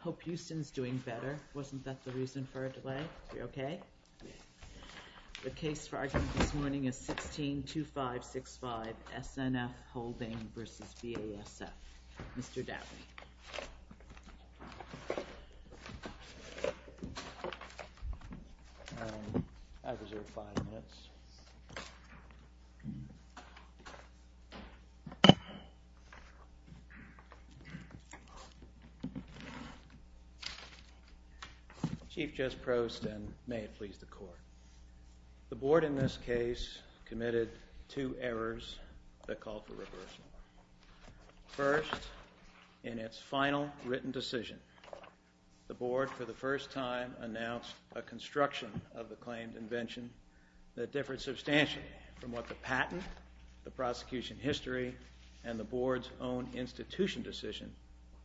Hope Houston's doing better. Wasn't that the reason for a delay? You okay? The case for argument this morning is 16-2565 SNF Holding v. BASF. Mr. Dowdy. I reserve five minutes. Chief Judge Prost and may it please the court. The board in this case committed two errors that called for reversal. First, in its final written decision, the board for the first time announced a construction of the claimed invention that differed substantially from what the patent, the prosecution history, and the board's own institution decision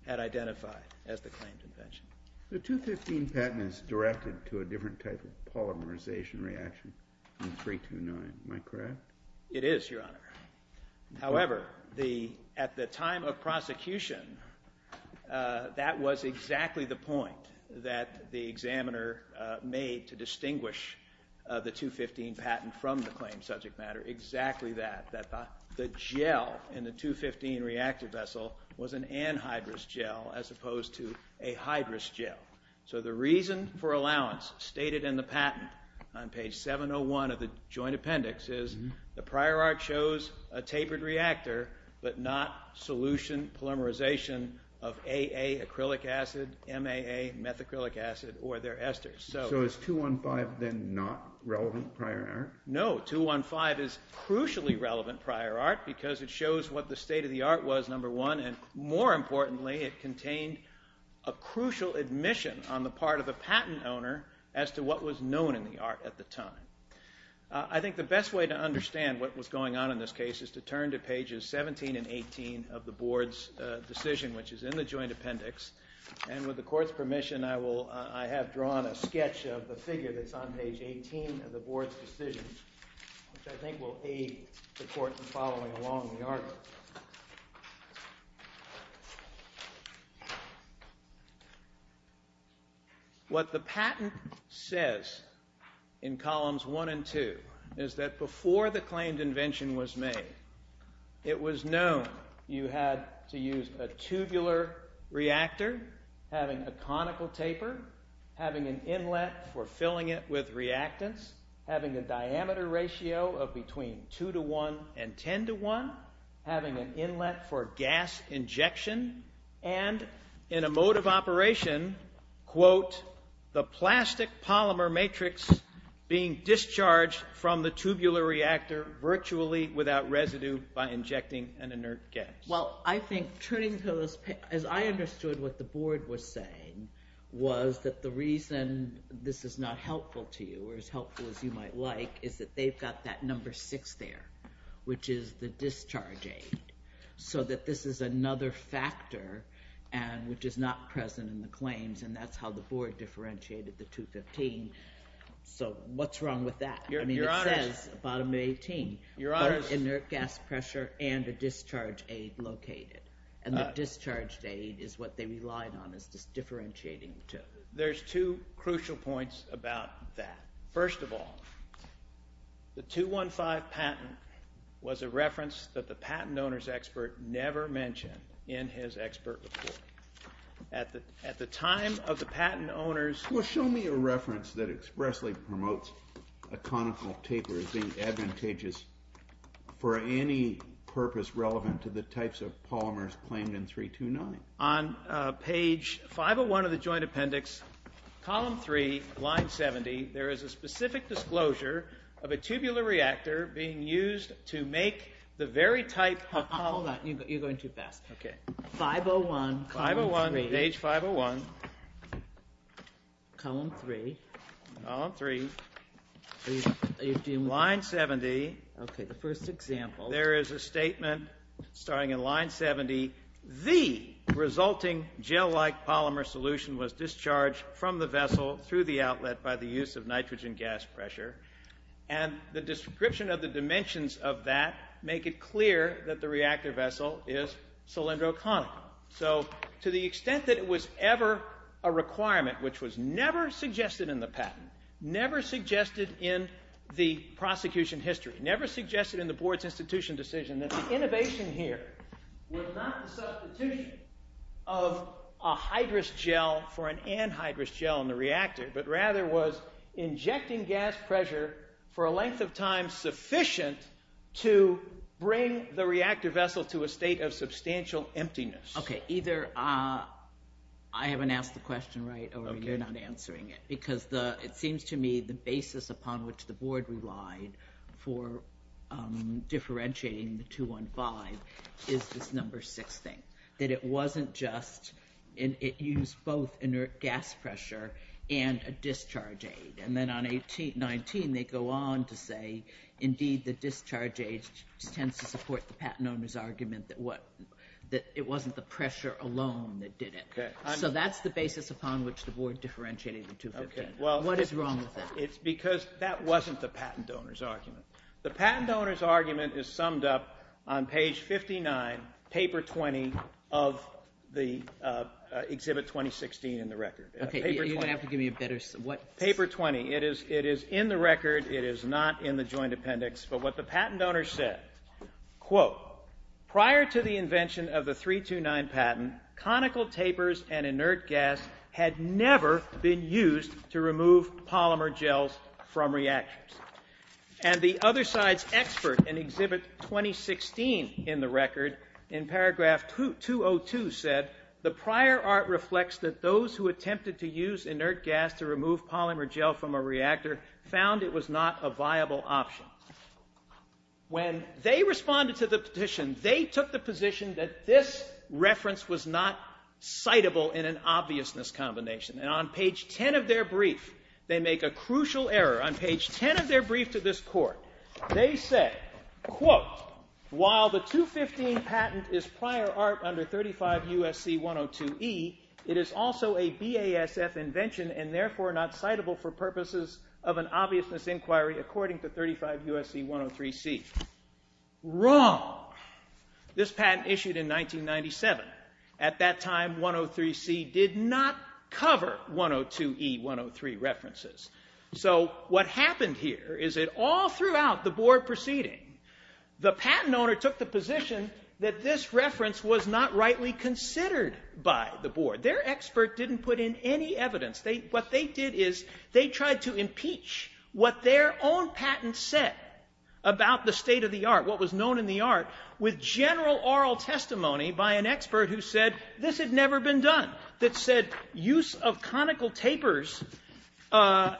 had identified as the claimed invention. The 215 patent is directed to a different type of polymerization reaction than 329. Am I correct? It is, Your Honor. However, at the time of prosecution, that was exactly the point that the examiner made to distinguish the 215 patent from the claimed subject matter. Exactly that, that the gel in the 215 reactor vessel was an anhydrous gel as opposed to a hydrous gel. So the reason for allowance stated in the patent on page 701 of the joint appendix is the prior art shows a tapered reactor but not solution polymerization of AA acrylic acid, MAA methacrylic acid, or their esters. So is 215 then not relevant prior art? No, 215 is crucially relevant prior art because it shows what the state of the art was, number one. And more importantly, it contained a crucial admission on the part of the patent owner as to what was known in the art at the time. I think the best way to understand what was going on in this case is to turn to pages 17 and 18 of the board's decision, which is in the joint appendix. And with the court's permission, I have drawn a sketch of the figure that's on page 18 of the board's decision, which I think will aid the court in following along the argument. What the patent says in columns 1 and 2 is that before the claimed invention was made, it was known you had to use a tubular reactor having a conical taper, having an inlet for filling it with reactants, having a diameter ratio of between 2 to 1 and 10 to 1, having an inlet for gas injection, and in a mode of operation, quote, the plastic polymer matrix being discharged from the tubular reactor virtually without residue by injecting an inert gas. Well, I think turning to those pages, as I understood what the board was saying was that the reason this is not helpful to you or as helpful as you might like is that they've got that number 6 there, which is the discharge aid. So that this is another factor, which is not present in the claims, and that's how the board differentiated the 215. So what's wrong with that? Your Honor. I mean, it says bottom of 18. Your Honor. There's an inert gas pressure and a discharge aid located, and the discharge aid is what they relied on as differentiating the two. There's two crucial points about that. First of all, the 215 patent was a reference that the patent owner's expert never mentioned in his expert report. At the time of the patent owner's… Well, show me a reference that expressly promotes a conical taper as being advantageous for any purpose relevant to the types of polymers claimed in 329. On page 501 of the joint appendix, column 3, line 70, there is a specific disclosure of a tubular reactor being used to make the very type… Hold on. You're going too fast. Okay. 501, column 3. 501, page 501. Column 3. Column 3. Line 70. Okay, the first example. There is a statement starting in line 70. The resulting gel-like polymer solution was discharged from the vessel through the outlet by the use of nitrogen gas pressure, and the description of the dimensions of that make it clear that the reactor vessel is cylindroconical. So to the extent that it was ever a requirement, which was never suggested in the patent, never suggested in the prosecution history, never suggested in the board's institution decision that the innovation here was not the substitution of a hydrous gel for an anhydrous gel in the reactor, but rather was injecting gas pressure for a length of time sufficient to bring the reactor vessel to a state of substantial emptiness. Okay, either I haven't asked the question right or you're not answering it, because it seems to me the basis upon which the board relied for differentiating the 215 is this number six thing, that it wasn't just, it used both inert gas pressure and a discharge aid. And then on 1819, they go on to say, indeed, the discharge aid tends to support the patent owner's argument that it wasn't the pressure alone that did it. So that's the basis upon which the board differentiated the 215. What is wrong with that? It's because that wasn't the patent owner's argument. The patent owner's argument is summed up on page 59, paper 20 of the Exhibit 2016 in the record. Okay, you're going to have to give me a better, what? Paper 20. It is in the record. It is not in the joint appendix. But what the patent owner said, quote, prior to the invention of the 329 patent, conical tapers and inert gas had never been used to remove polymer gels from reactors. And the other side's expert in Exhibit 2016 in the record, in paragraph 202, said, the prior art reflects that those who attempted to use inert gas to remove polymer gel from a reactor found it was not a viable option. When they responded to the petition, they took the position that this reference was not citable in an obviousness combination. And on page 10 of their brief, they make a crucial error. On page 10 of their brief to this court, they said, quote, while the 215 patent is prior art under 35 U.S.C. 102E, it is also a BASF invention and therefore not citable for purposes of an obviousness inquiry according to 35 U.S.C. 103C. Wrong. This patent issued in 1997. At that time, 103C did not cover 102E, 103 references. So what happened here is that all throughout the board proceeding, the patent owner took the position that this reference was not rightly considered by the board. Their expert didn't put in any evidence. What they did is they tried to impeach what their own patent said about the state of the art, what was known in the art, with general oral testimony by an expert who said this had never been done, that said use of conical tapers and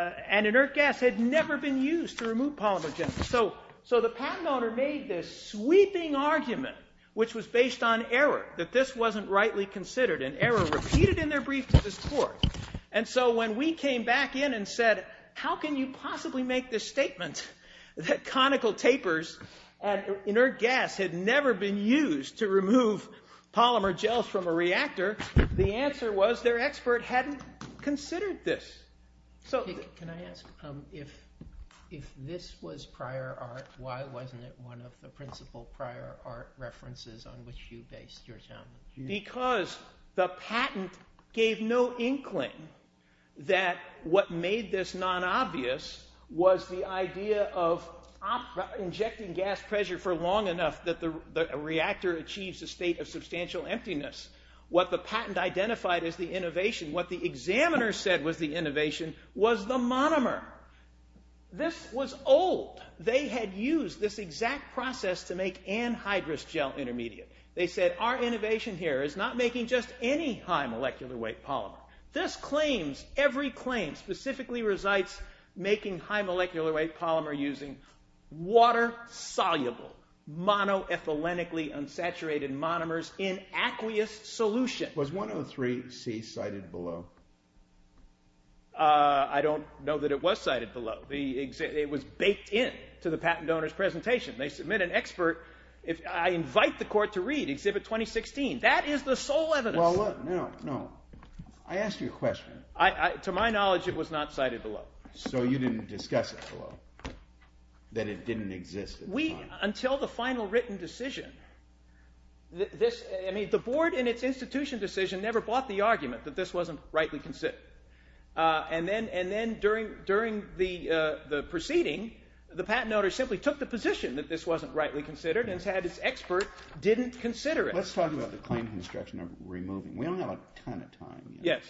inert gas had never been used to remove polymer gel. So the patent owner made this sweeping argument, which was based on error, that this wasn't rightly considered, an error repeated in their brief to this court. And so when we came back in and said, how can you possibly make this statement that conical tapers and inert gas had never been used to remove polymer gels from a reactor, the answer was their expert hadn't considered this. Can I ask, if this was prior art, why wasn't it one of the principal prior art references on which you based your challenge? Because the patent gave no inkling that what made this non-obvious was the idea of injecting gas pressure for long enough that the reactor achieves a state of substantial emptiness. What the patent identified as the innovation, what the examiner said was the innovation, was the monomer. This was old. They had used this exact process to make anhydrous gel intermediate. They said, our innovation here is not making just any high molecular weight polymer. This claims, every claim specifically resides making high molecular weight polymer using water-soluble, monoethylenically unsaturated monomers in aqueous solution. Was 103C cited below? I don't know that it was cited below. It was baked in to the patent owner's presentation. They submit an expert. I invite the court to read Exhibit 2016. That is the sole evidence. Well, look. No, no. I asked you a question. To my knowledge, it was not cited below. So you didn't discuss it below, that it didn't exist at the time. Until the final written decision, the board in its institution decision never bought the argument that this wasn't rightly considered. And then during the proceeding, the patent owner simply took the position that this wasn't rightly considered and had its expert didn't consider it. Let's talk about the claim construction of removing. We don't have a ton of time. Yes.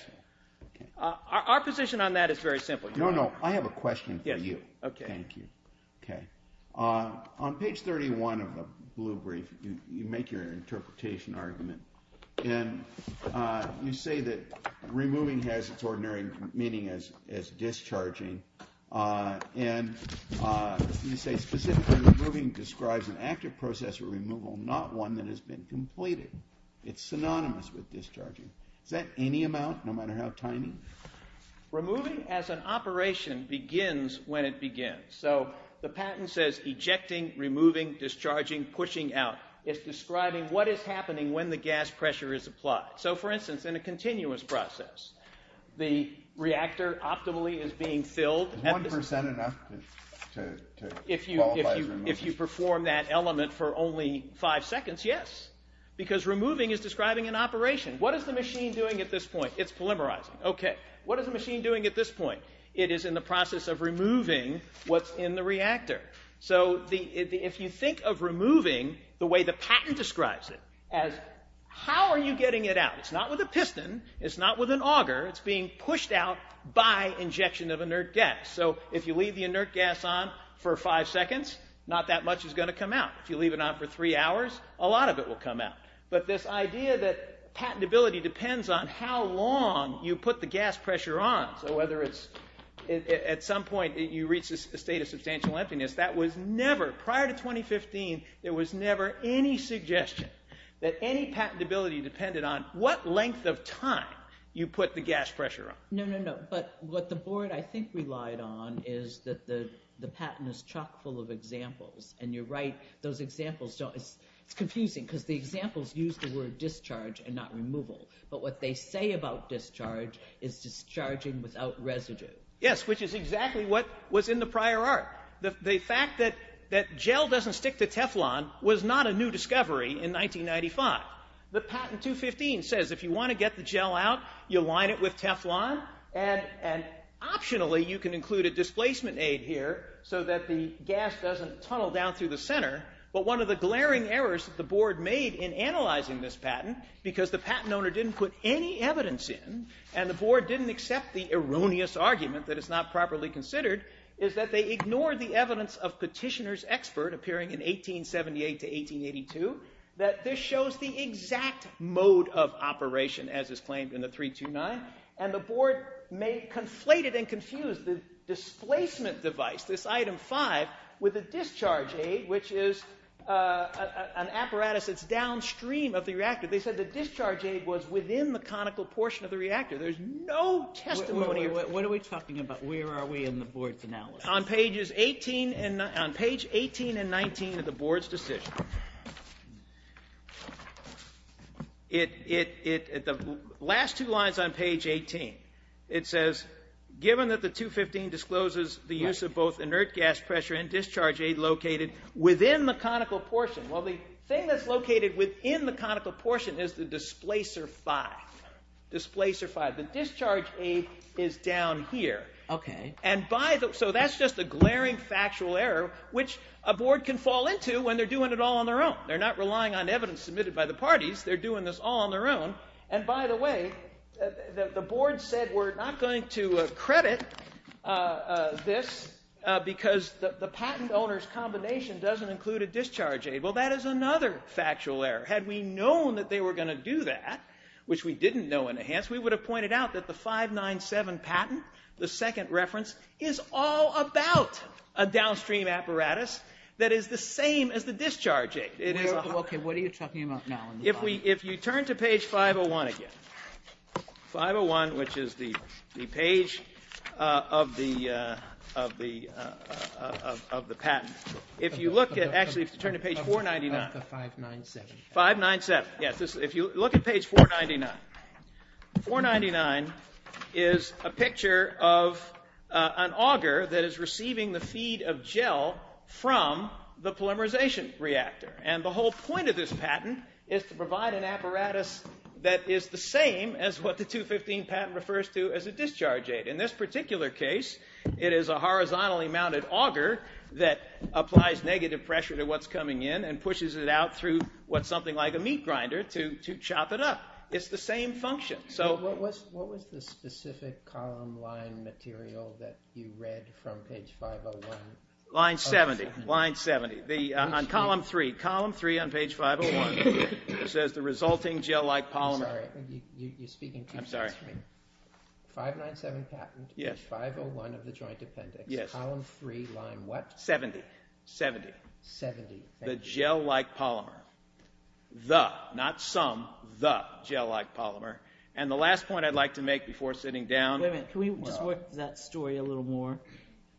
Our position on that is very simple. No, no. I have a question for you. Okay. Thank you. On page 31 of the blue brief, you make your interpretation argument. And you say that removing has its ordinary meaning as discharging. And you say specifically removing describes an active process of removal, not one that has been completed. It's synonymous with discharging. Is that any amount, no matter how tiny? Removing as an operation begins when it begins. So the patent says ejecting, removing, discharging, pushing out. It's describing what is happening when the gas pressure is applied. So, for instance, in a continuous process, the reactor optimally is being filled. One percent enough to qualify as removing. If you perform that element for only five seconds, yes. Because removing is describing an operation. What is the machine doing at this point? It's polymerizing. Okay. What is the machine doing at this point? It is in the process of removing what's in the reactor. So if you think of removing the way the patent describes it as how are you getting it out? It's not with a piston. It's not with an auger. It's being pushed out by injection of inert gas. So if you leave the inert gas on for five seconds, not that much is going to come out. If you leave it on for three hours, a lot of it will come out. But this idea that patentability depends on how long you put the gas pressure on. So whether it's at some point you reach a state of substantial emptiness. That was never, prior to 2015, there was never any suggestion that any patentability depended on what length of time you put the gas pressure on. No, no, no. But what the board, I think, relied on is that the patent is chock full of examples. And you're right. Those examples don't, it's confusing because the examples use the word discharge and not removal. But what they say about discharge is discharging without residue. Yes, which is exactly what was in the prior art. The fact that gel doesn't stick to Teflon was not a new discovery in 1995. The patent 215 says if you want to get the gel out, you line it with Teflon. And optionally, you can include a displacement aid here so that the gas doesn't tunnel down through the center. But one of the glaring errors that the board made in analyzing this patent, because the patent owner didn't put any evidence in, and the board didn't accept the erroneous argument that it's not properly considered, is that they ignored the evidence of petitioner's expert, appearing in 1878 to 1882, that this shows the exact mode of operation as is claimed in the 329. And the board conflated and confused the displacement device, this item 5, with a discharge aid, which is an apparatus that's downstream of the reactor. They said the discharge aid was within the conical portion of the reactor. There's no testimony. What are we talking about? Where are we in the board's analysis? On page 18 and 19 of the board's decision, the last two lines on page 18, it says, given that the 215 discloses the use of both inert gas pressure and discharge aid located within the conical portion. Well, the thing that's located within the conical portion is the displacer 5. Displacer 5. The discharge aid is down here. And so that's just a glaring factual error, which a board can fall into when they're doing it all on their own. They're not relying on evidence submitted by the parties. They're doing this all on their own. And, by the way, the board said we're not going to credit this because the patent owner's combination doesn't include a discharge aid. Well, that is another factual error. Had we known that they were going to do that, which we didn't know in advance, we would have pointed out that the 597 patent, the second reference, is all about a downstream apparatus that is the same as the discharge aid. Okay. What are you talking about now? If you turn to page 501 again, 501, which is the page of the patent. If you look at, actually, if you turn to page 499. The 597. 597. Yes. If you look at page 499, 499 is a picture of an auger that is receiving the feed of gel from the polymerization reactor. And the whole point of this patent is to provide an apparatus that is the same as what the 215 patent refers to as a discharge aid. In this particular case, it is a horizontally mounted auger that applies negative pressure to what's coming in and pushes it out through what's something like a meat grinder to chop it up. It's the same function. So what was the specific column line material that you read from page 501? Line 70. Line 70. On column 3. Column 3 on page 501. It says the resulting gel-like polymer. I'm sorry. You're speaking too fast for me. I'm sorry. 597 patent. Yes. Page 501 of the joint appendix. Yes. Column 3, line what? 70. 70. 70. Thank you. The gel-like polymer. The. Not some. The gel-like polymer. And the last point I'd like to make before sitting down. Wait a minute. Can we just work that story a little more?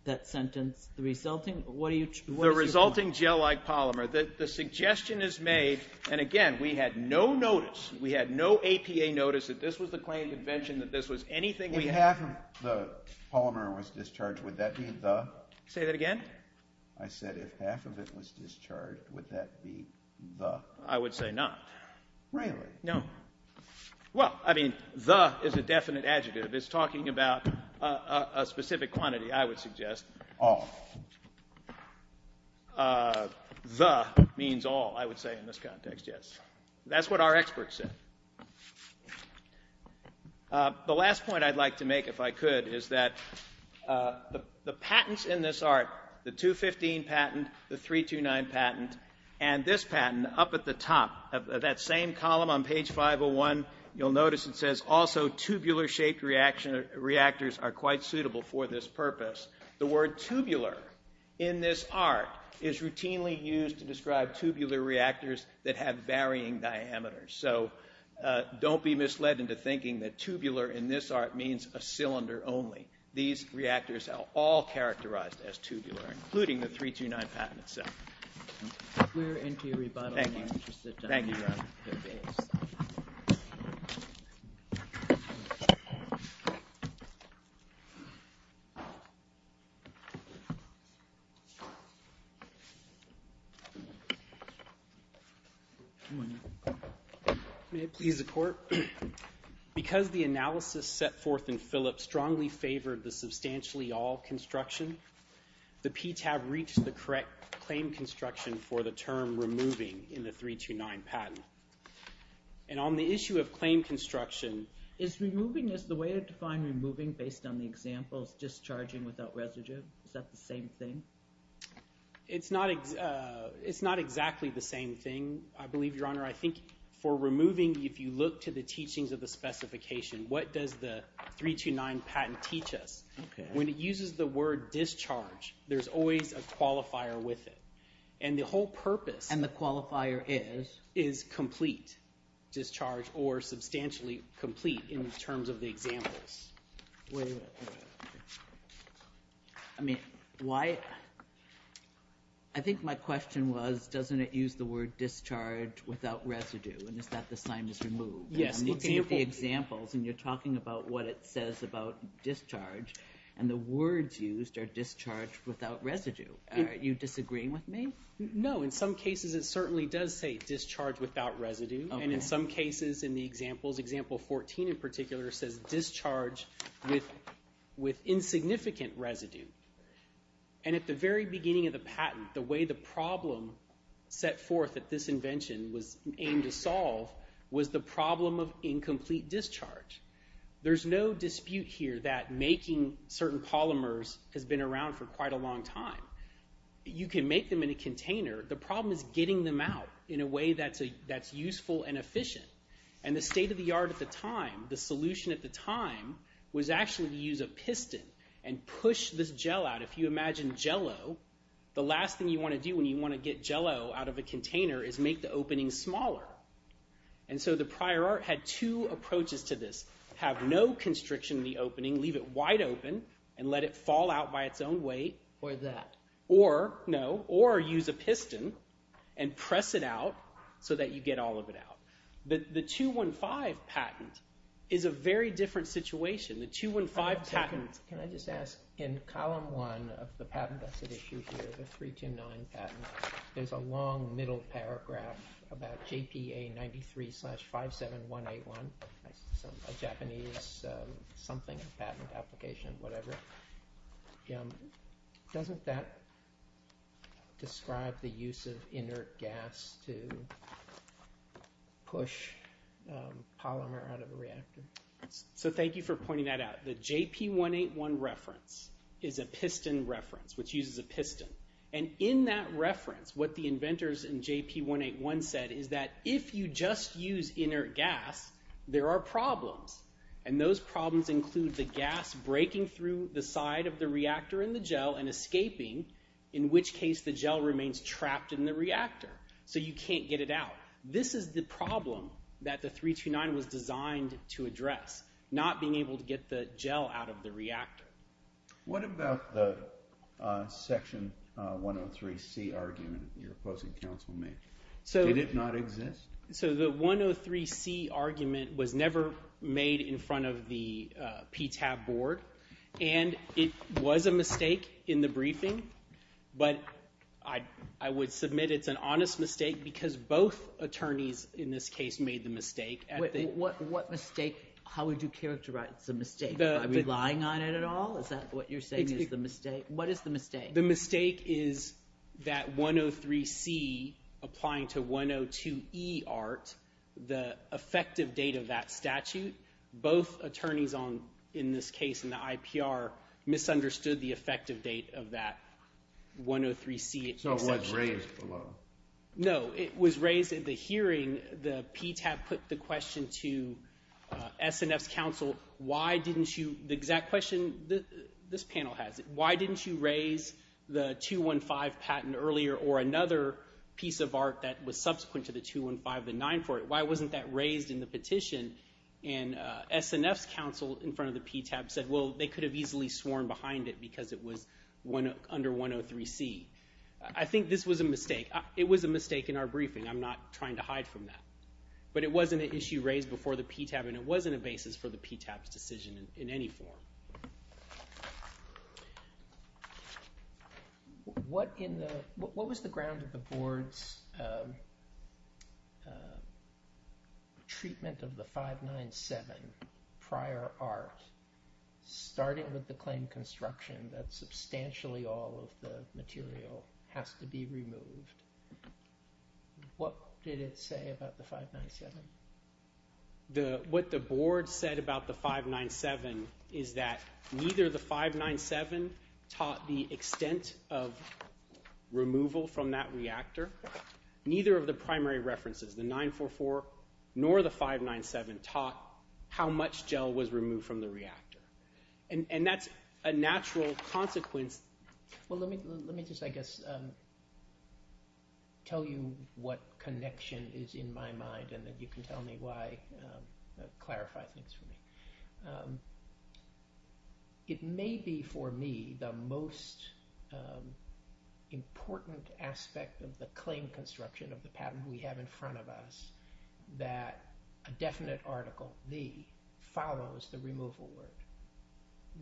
That sentence. The resulting. What are you talking about? The resulting gel-like polymer. The suggestion is made. And, again, we had no notice. We had no APA notice that this was the claim convention, that this was anything we had. If half of the polymer was discharged, would that be the? Say that again? I said if half of it was discharged, would that be the? I would say not. Really? No. Well, I mean, the is a definite adjective. It's talking about a specific quantity, I would suggest. Oh. The means all, I would say, in this context, yes. That's what our experts said. The last point I'd like to make, if I could, is that the patents in this art, the 215 patent, the 329 patent, and this patent up at the top, that same column on page 501, you'll notice it says, also, tubular-shaped reactors are quite suitable for this purpose. The word tubular, in this art, is routinely used to describe tubular reactors that have varying diameters. So don't be misled into thinking that tubular, in this art, means a cylinder only. These reactors are all characterized as tubular, including the 329 patent itself. We're into your rebuttal. Thank you. We're interested to hear your views. Thank you. Thank you. May it please the court? Because the analysis set forth in Phillips strongly favored the substantially all construction, the PTAB reached the correct claim construction for the term removing in the 329 patent. And on the issue of claim construction, is removing, is the way to define removing, based on the examples, discharging without residue? Is that the same thing? It's not exactly the same thing, I believe, Your Honor. I think for removing, if you look to the teachings of the specification, what does the 329 patent teach us? When it uses the word discharge, there's always a qualifier with it. And the whole purpose— And the qualifier is? Is complete, discharge, or substantially complete in terms of the examples. Wait a minute. I mean, why—I think my question was, doesn't it use the word discharge without residue, and is that the sign is removed? Yes, the example— I'm looking at the examples, and you're talking about what it says about discharge, and the words used are discharge without residue. Are you disagreeing with me? No, in some cases it certainly does say discharge without residue, and in some cases in the examples, example 14 in particular, says discharge with insignificant residue. And at the very beginning of the patent, the way the problem set forth at this invention was aimed to solve was the problem of incomplete discharge. There's no dispute here that making certain polymers has been around for quite a long time. You can make them in a container. The problem is getting them out in a way that's useful and efficient. And the state of the art at the time, the solution at the time, was actually to use a piston and push this gel out. If you imagine Jell-O, the last thing you want to do when you want to get Jell-O out of a container is make the opening smaller. And so the prior art had two approaches to this. Have no constriction in the opening, leave it wide open, and let it fall out by its own weight. Or that. Or, no, or use a piston and press it out so that you get all of it out. The 215 patent is a very different situation. The 215 patent... Can I just ask, in column one of the patent that's at issue here, the 329 patent, there's a long middle paragraph about JPA 93-57181, a Japanese something, patent application, whatever. Doesn't that describe the use of inert gas to push polymer out of a reactor? So thank you for pointing that out. The JP181 reference is a piston reference, which uses a piston. And in that reference, what the inventors in JP181 said is that if you just use inert gas, there are problems. And those problems include the gas breaking through the side of the reactor in the gel and escaping, in which case the gel remains trapped in the reactor. So you can't get it out. This is the problem that the 329 was designed to address, not being able to get the gel out of the reactor. What about the Section 103C argument that your opposing counsel made? Did it not exist? So the 103C argument was never made in front of the PTAB board. And it was a mistake in the briefing, but I would submit it's an honest mistake because both attorneys in this case made the mistake. What mistake? How would you characterize the mistake? Are you relying on it at all? Is that what you're saying is the mistake? What is the mistake? The mistake is that 103C applying to 102E art, the effective date of that statute, both attorneys in this case in the IPR misunderstood the effective date of that 103C exception. So it was raised below. No, it was raised in the hearing. And the PTAB put the question to SNF's counsel, the exact question this panel has, why didn't you raise the 215 patent earlier or another piece of art that was subsequent to the 215, the 940? Why wasn't that raised in the petition? And SNF's counsel in front of the PTAB said, well, they could have easily sworn behind it because it was under 103C. I think this was a mistake. It was a mistake in our briefing. I'm not trying to hide from that. But it wasn't an issue raised before the PTAB, and it wasn't a basis for the PTAB's decision in any form. What was the ground of the board's treatment of the 597 prior art, starting with the claim construction that substantially all of the material has to be removed? What did it say about the 597? What the board said about the 597 is that neither the 597 taught the extent of removal from that reactor, neither of the primary references, the 944, nor the 597 taught how much gel was removed from the reactor. And that's a natural consequence. Well, let me just, I guess, tell you what connection is in my mind and then you can tell me why, clarify things for me. It may be for me the most important aspect of the claim construction of the pattern we have in front of us, that a definite article, the, follows the removal word.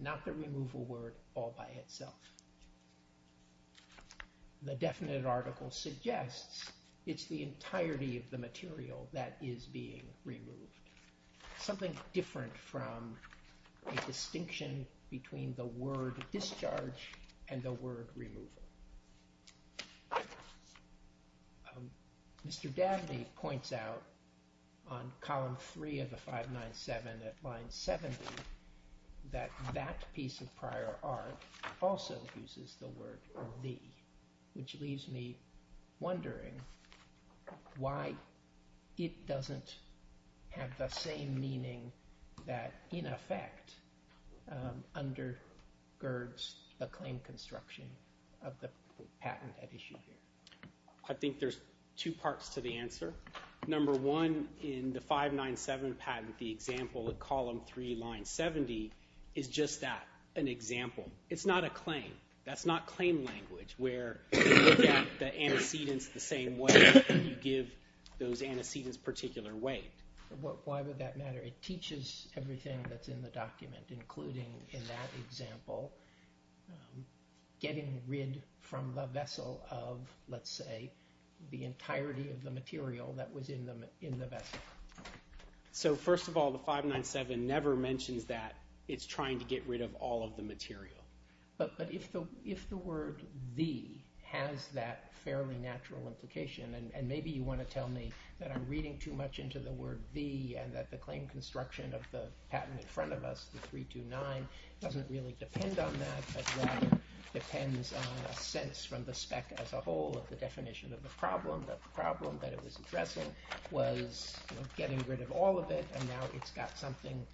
Not the removal word all by itself. The definite article suggests it's the entirety of the material that is being removed. Something different from the distinction between the word discharge and the word removal. Mr. Davide points out on column 3 of the 597 at line 70, that that piece of prior art also uses the word the, which leaves me wondering why it doesn't have the same meaning that in effect undergirds the claim construction of the patent at issue here. I think there's two parts to the answer. Number one, in the 597 patent, the example at column 3, line 70, is just that, an example. It's not a claim. That's not claim language where you look at the antecedents the same way and you give those antecedents particular weight. Why would that matter? It teaches everything that's in the document, including in that example, getting rid from the vessel of, let's say, the entirety of the material that was in the vessel. So first of all, the 597 never mentions that it's trying to get rid of all of the material. But if the word the has that fairly natural implication, and maybe you want to tell me that I'm reading too much into the word the and that the claim construction of the patent in front of us, the 329, doesn't really depend on that but rather depends on a sense from the spec as a whole of the definition of the problem. The problem that it was addressing was getting rid of all of it and now it's got something,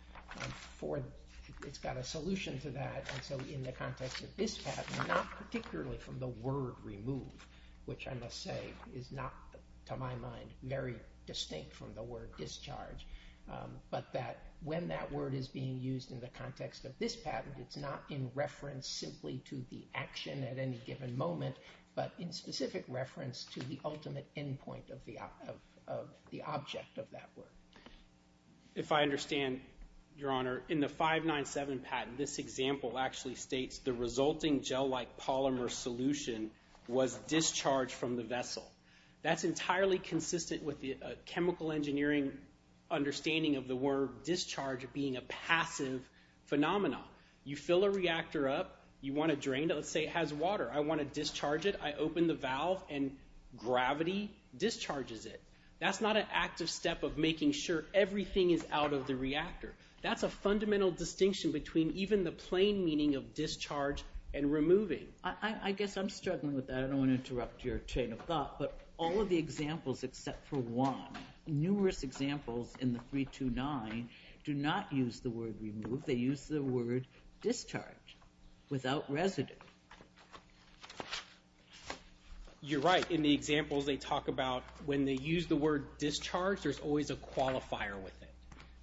it's got a solution to that. And so in the context of this patent, not particularly from the word remove, which I must say is not, to my mind, very distinct from the word discharge, but that when that word is being used in the context of this patent, it's not in reference simply to the action at any given moment, but in specific reference to the ultimate endpoint of the object of that word. If I understand, Your Honor, in the 597 patent, this example actually states the resulting gel-like polymer solution was discharged from the vessel. That's entirely consistent with the chemical engineering understanding of the word discharge being a passive phenomenon. You fill a reactor up, you want to drain it, let's say it has water, I want to discharge it, I open the valve and gravity discharges it. That's not an active step of making sure everything is out of the reactor. That's a fundamental distinction between even the plain meaning of discharge and removing. I guess I'm struggling with that. I don't want to interrupt your chain of thought, but all of the examples except for one, numerous examples in the 329 do not use the word remove. They use the word discharge without residue. You're right. In the examples they talk about, when they use the word discharge, there's always a qualifier with it.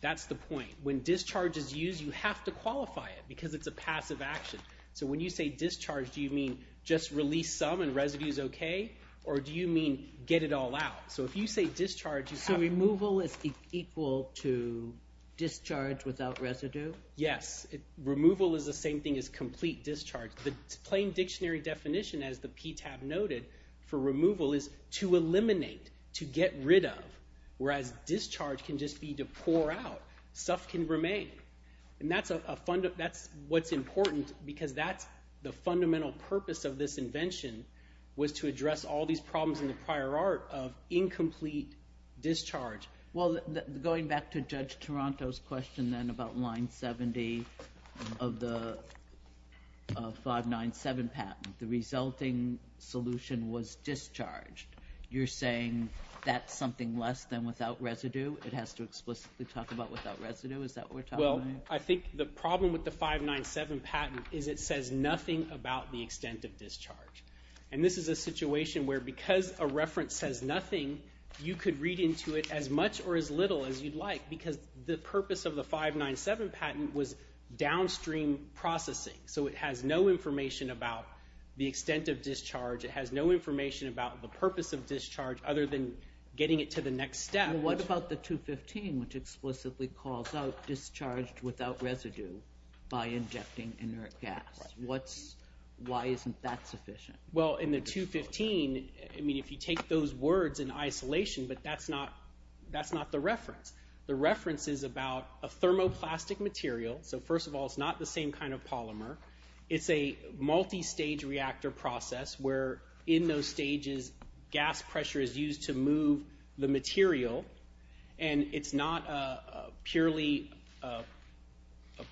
That's the point. When discharge is used, you have to qualify it because it's a passive action. So when you say discharge, do you mean just release some and residue is okay, or do you mean get it all out? So if you say discharge, you have to... Removal is equal to discharge without residue? Yes. Removal is the same thing as complete discharge. The plain dictionary definition, as the PTAB noted, for removal is to eliminate, to get rid of, whereas discharge can just be to pour out. Stuff can remain. That's what's important because that's the fundamental purpose of this invention was to address all these problems in the prior art of incomplete discharge. Well, going back to Judge Toronto's question then about line 70 of the 597 patent, the resulting solution was discharged. You're saying that's something less than without residue? It has to explicitly talk about without residue? Is that what we're talking about? Well, I think the problem with the 597 patent is it says nothing about the extent of discharge. This is a situation where because a reference says nothing, you could read into it as much or as little as you'd like because the purpose of the 597 patent was downstream processing, so it has no information about the extent of discharge. It has no information about the purpose of discharge other than getting it to the next step. What about the 215, which explicitly calls out discharged without residue by injecting inert gas? Why isn't that sufficient? Well, in the 215, if you take those words in isolation, but that's not the reference. The reference is about a thermoplastic material. First of all, it's not the same kind of polymer. It's a multistage reactor process where in those stages, gas pressure is used to move the material, and it's not purely a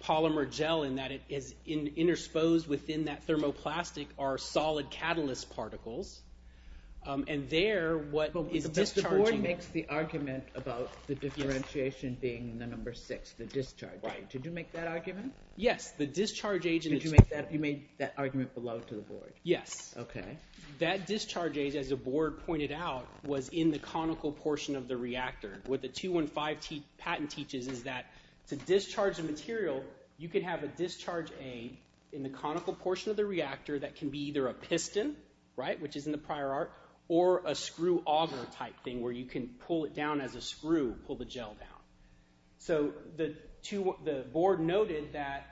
polymer gel in that it is intersposed within that thermoplastic are solid catalyst particles, and there what is discharging... But the board makes the argument about the differentiation being the number 6, the discharge. Did you make that argument? Yes, the discharge agent... You made that argument below to the board? Yes. Okay. That discharge age, as the board pointed out, was in the conical portion of the reactor. What the 215 patent teaches is that to discharge a material, you could have a discharge age in the conical portion of the reactor that can be either a piston, right, which is in the prior art, or a screw auger type thing where you can pull it down as a screw, pull the gel down. So the board noted that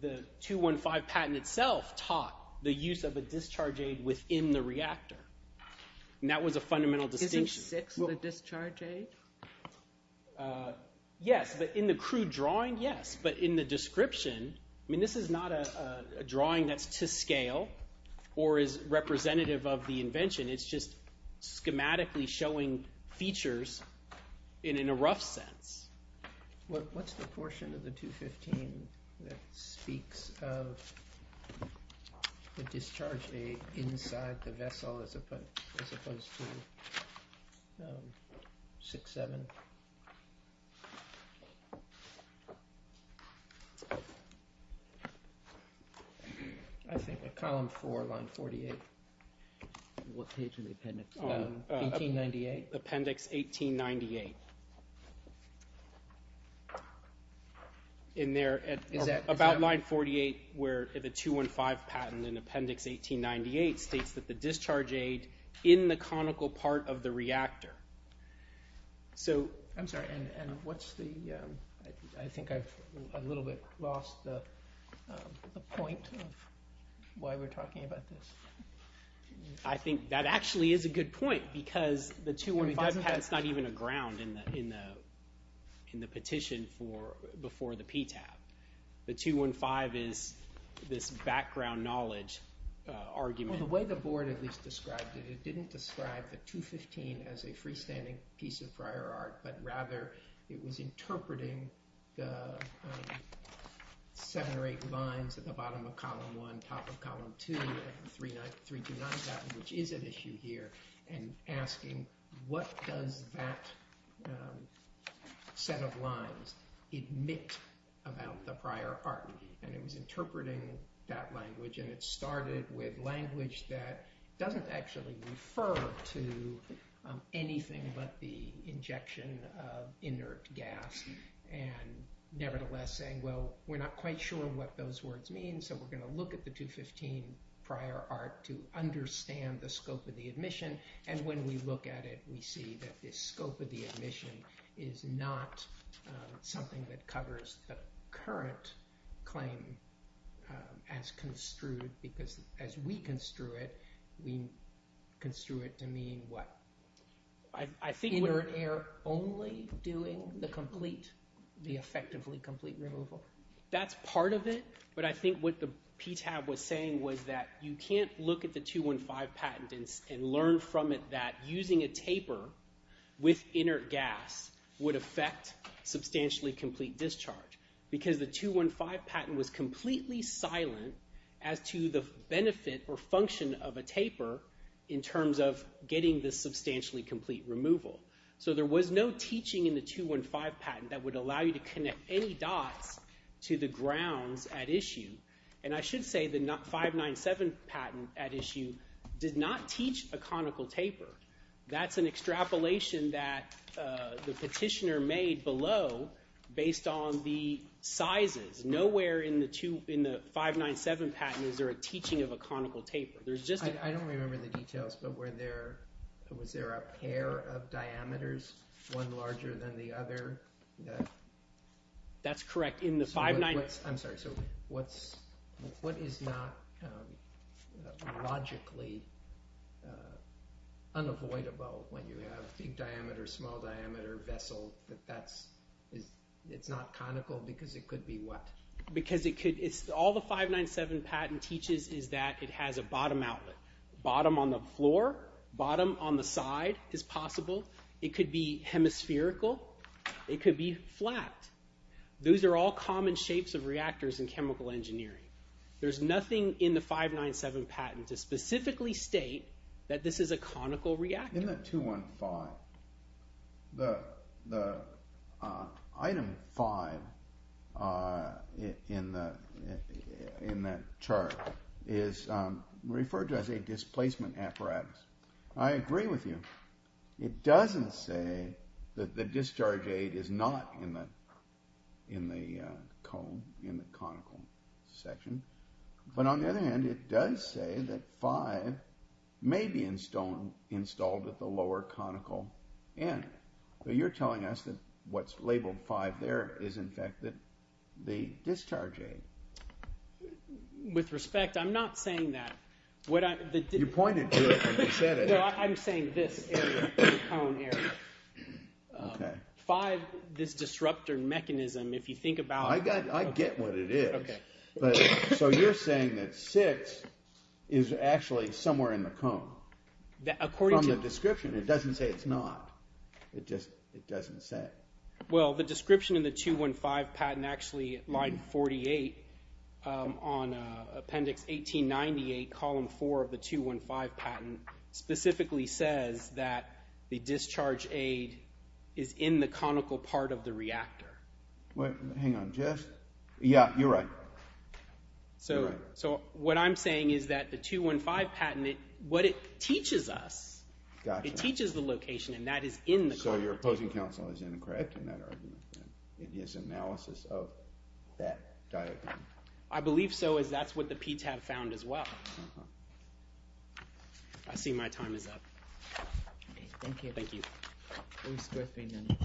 the 215 patent itself taught the use of a discharge age within the reactor. And that was a fundamental distinction. Isn't 6 the discharge age? Yes, but in the crude drawing, yes. But in the description, I mean, this is not a drawing that's to scale or is representative of the invention. It's just schematically showing features in a rough sense. What's the portion of the 215 that speaks of the discharge age inside the vessel as opposed to 6-7? I think at column 4, line 48. What page in the appendix? 1898. Appendix 1898. In there, about line 48 where the 215 patent in appendix 1898 states that the discharge age in the conical part of the reactor. I'm sorry, and what's the, I think I've a little bit lost the point of why we're talking about this. I think that actually is a good point because the 215 patent is not even a ground in the petition before the PTAB. The 215 is this background knowledge argument. Well, the way the board at least described it, it didn't describe the 215 as a freestanding piece of prior art, but rather it was interpreting the seven or eight lines at the bottom of column 1, top of column 2, 329 patent, which is an issue here, and asking what does that set of lines admit about the prior art. And it was interpreting that language and it started with language that doesn't actually refer to anything but the injection of inert gas and nevertheless saying, well, we're not quite sure what those words mean so we're going to look at the 215 prior art to understand the scope of the admission. And when we look at it, we see that the scope of the admission is not something that covers the current claim as construed because as we construe it, we construe it to mean what? Inert air only doing the complete, the effectively complete removal. That's part of it, but I think what the PTAB was saying was that you can't look at the 215 patent and learn from it that using a taper with inert gas would affect substantially complete discharge because the 215 patent was completely silent as to the benefit or function of a taper in terms of getting the substantially complete removal. So there was no teaching in the 215 patent that would allow you to connect any dots to the grounds at issue. And I should say the 597 patent at issue did not teach a conical taper. That's an extrapolation that the petitioner made below based on the sizes. Nowhere in the 597 patent is there a teaching of a conical taper. I don't remember the details, but was there a pair of diameters, one larger than the other? That's correct. I'm sorry. So what is not logically unavoidable when you have big diameter, small diameter vessel that it's not conical because it could be what? Because all the 597 patent teaches is that it has a bottom outlet. Bottom on the floor, bottom on the side is possible. It could be hemispherical. It could be flat. Those are all common shapes of reactors in chemical engineering. There's nothing in the 597 patent to specifically state that this is a conical reactor. In that 215, the item 5 in that chart is referred to as a displacement apparatus. I agree with you. It doesn't say that the discharge aid is not in the cone, in the conical section. But on the other hand, it does say that 5 may be installed at the lower conical end. But you're telling us that what's labeled 5 there is, in fact, the discharge aid. With respect, I'm not saying that. You pointed to it when you said it. No, I'm saying this area, the cone area. Okay. 5, this disruptor mechanism, if you think about it. I get what it is. Okay. So you're saying that 6 is actually somewhere in the cone. According to— From the description. It doesn't say it's not. It just doesn't say. Well, the description in the 215 patent actually lied in 48 on appendix 1898, column 4 of the 215 patent specifically says that the discharge aid is in the conical part of the reactor. Hang on. Yeah, you're right. So what I'm saying is that the 215 patent, what it teaches us, it teaches the location, and that is in the cone. So your opposing counsel is incorrect in that argument, in his analysis of that diagram. I believe so, as that's what the PTAB found as well. I see my time is up. Thank you. Thank you. It was worth being done.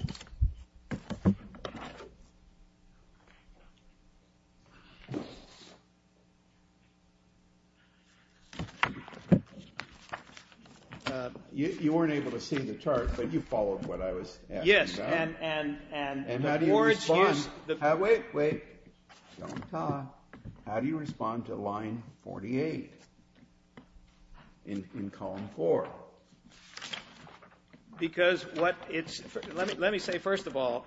You weren't able to see the chart, but you followed what I was asking about. Yes, and— And how do you respond? Wait, wait. Don't talk. How do you respond to line 48 in column 4? Because what it's— Let me say, first of all,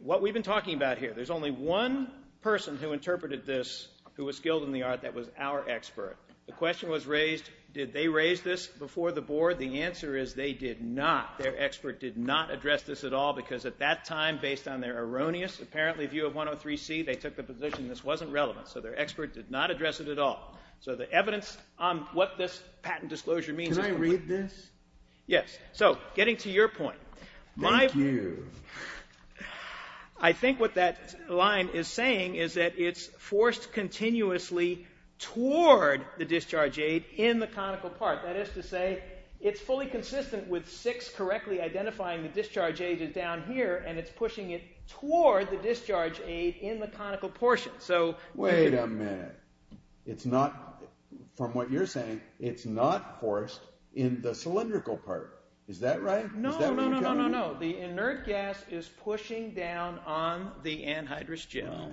what we've been talking about here, there's only one person who interpreted this who was skilled in the art that was our expert. The question was raised, did they raise this before the board? The answer is they did not. Their expert did not address this at all because at that time, based on their erroneous, apparently, view of 103C, they took the position this wasn't relevant. So their expert did not address it at all. So the evidence on what this patent disclosure means— Can I read this? Yes. So getting to your point— Thank you. I think what that line is saying is that it's forced continuously toward the discharge aid in the conical part. That is to say, it's fully consistent with 6 correctly identifying the discharge aid is down here, and it's pushing it toward the discharge aid in the conical portion. Wait a minute. It's not—from what you're saying, it's not forced in the cylindrical part. Is that right? No, no, no, no, no, no. The inert gas is pushing down on the anhydrous gel.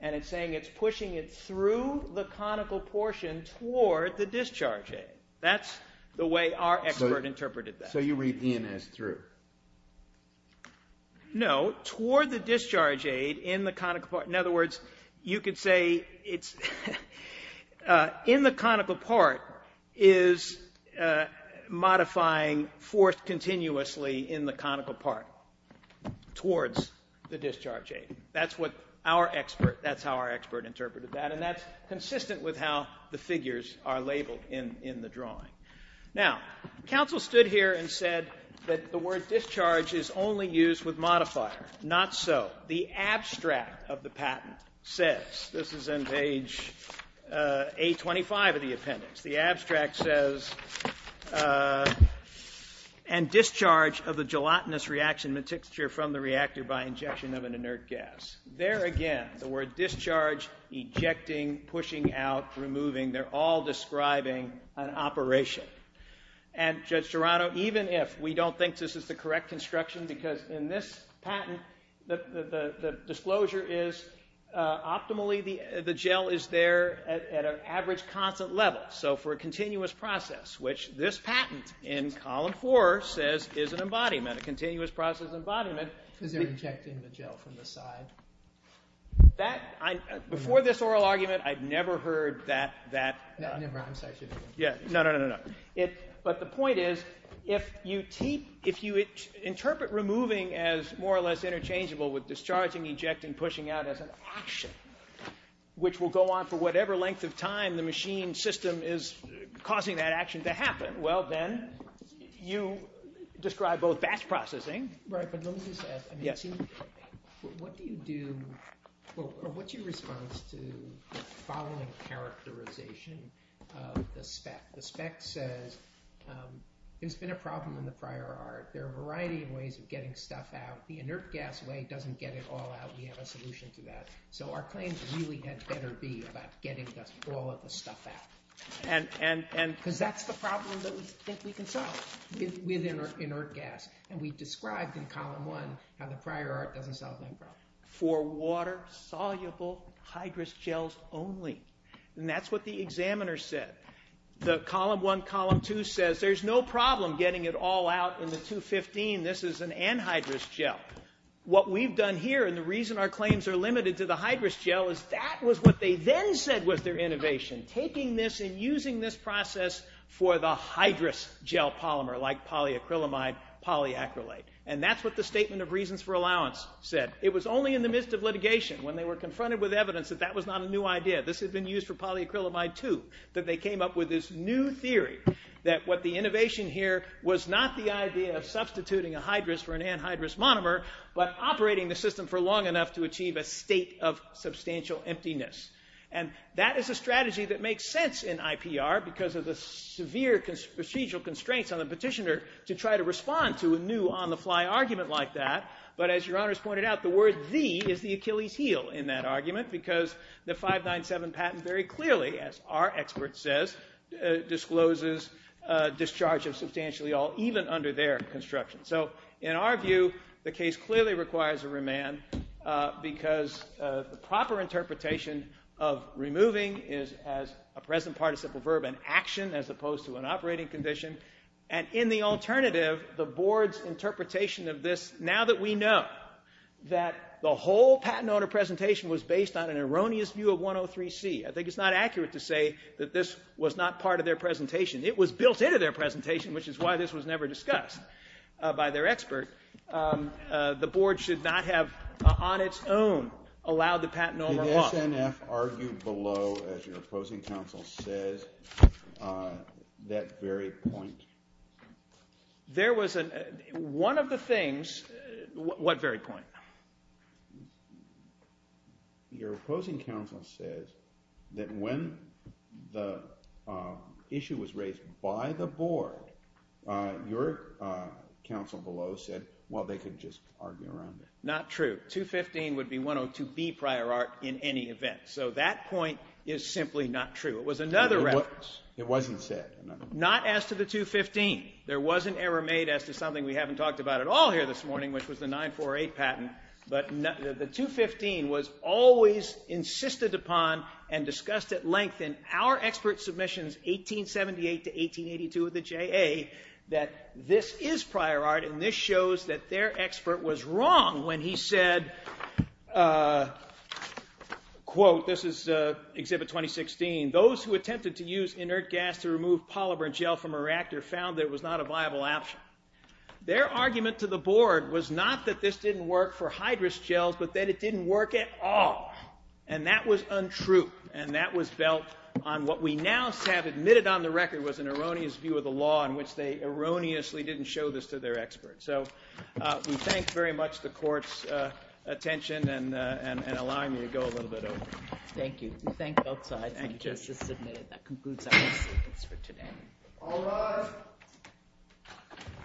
And it's saying it's pushing it through the conical portion toward the discharge aid. That's the way our expert interpreted that. So you read E&S through. No, toward the discharge aid in the conical part. In other words, you could say it's in the conical part is modifying forced continuously in the conical part towards the discharge aid. That's what our expert—that's how our expert interpreted that. And that's consistent with how the figures are labeled in the drawing. Now, counsel stood here and said that the word discharge is only used with modifier. Not so. The abstract of the patent says— this is on page A25 of the appendix— the abstract says, and discharge of the gelatinous reaction mixture from the reactor by injection of an inert gas. There again, the word discharge, ejecting, pushing out, removing, they're all describing an operation. And Judge Gerano, even if we don't think this is the correct construction, because in this patent the disclosure is optimally the gel is there at an average constant level. So for a continuous process, which this patent in column four says is an embodiment, a continuous process embodiment— Because they're ejecting the gel from the side. Before this oral argument, I'd never heard that— Never, I'm sorry. No, no, no, no. But the point is, if you interpret removing as more or less interchangeable with discharging, ejecting, pushing out as an action, which will go on for whatever length of time the machine system is causing that action to happen, well then, you describe both batch processing— Right, but let me just ask, what's your response to the following characterization of the spec? The spec says there's been a problem in the prior art. There are a variety of ways of getting stuff out. The inert gas way doesn't get it all out. We have a solution to that. So our claim really had better be about getting all of the stuff out. Because that's the problem that we can solve with inert gas. And we described in Column 1 how the prior art doesn't solve that problem. For water-soluble hydrous gels only. And that's what the examiner said. The Column 1, Column 2 says there's no problem getting it all out in the 215. This is an anhydrous gel. What we've done here, and the reason our claims are limited to the hydrous gel, is that was what they then said was their innovation, taking this and using this process for the hydrous gel polymer, like polyacrylamide, polyacrylate. And that's what the Statement of Reasons for Allowance said. It was only in the midst of litigation, when they were confronted with evidence, that that was not a new idea. This had been used for polyacrylamide, too, that they came up with this new theory that what the innovation here was not the idea of substituting a hydrous for an anhydrous monomer, but operating the system for long enough to achieve a state of substantial emptiness. And that is a strategy that makes sense in IPR because of the severe procedural constraints on the petitioner to try to respond to a new on-the-fly argument like that. But as Your Honor has pointed out, the word the is the Achilles' heel in that argument because the 597 patent very clearly, as our expert says, discloses discharge of substantially all, even under their construction. So in our view, the case clearly requires a remand because the proper interpretation of removing is as a present participle verb, an action, as opposed to an operating condition. And in the alternative, the Board's interpretation of this, now that we know that the whole patent owner presentation was based on an erroneous view of 103C, I think it's not accurate to say that this was not part of their presentation. It was built into their presentation, which is why this was never discussed by their expert. The Board should not have, on its own, allowed the patent owner one. Would the SNF argue below, as your opposing counsel says, that very point? There was a... One of the things... What very point? Your opposing counsel says that when the issue was raised by the Board, your counsel below said, well, they could just argue around it. Not true. 215 would be 102B prior art in any event. So that point is simply not true. It was another reference. It wasn't said. Not as to the 215. There was an error made as to something we haven't talked about at all here this morning, which was the 948 patent. But the 215 was always insisted upon and discussed at length in our expert submissions, 1878 to 1882 of the JA, that this is prior art, and this shows that their expert was wrong when he said, quote, this is Exhibit 2016, those who attempted to use inert gas to remove polymer gel from a reactor found that it was not a viable option. Their argument to the Board was not that this didn't work for hydrous gels, but that it didn't work at all. And that was untrue. And that was built on what we now have admitted on the record was an erroneous view of the law in which they erroneously didn't show this to their experts. So we thank very much the Court's attention and allowing me to go a little bit over. Thank you. We thank both sides. Thank you, Justice. That concludes our statements for today. All rise.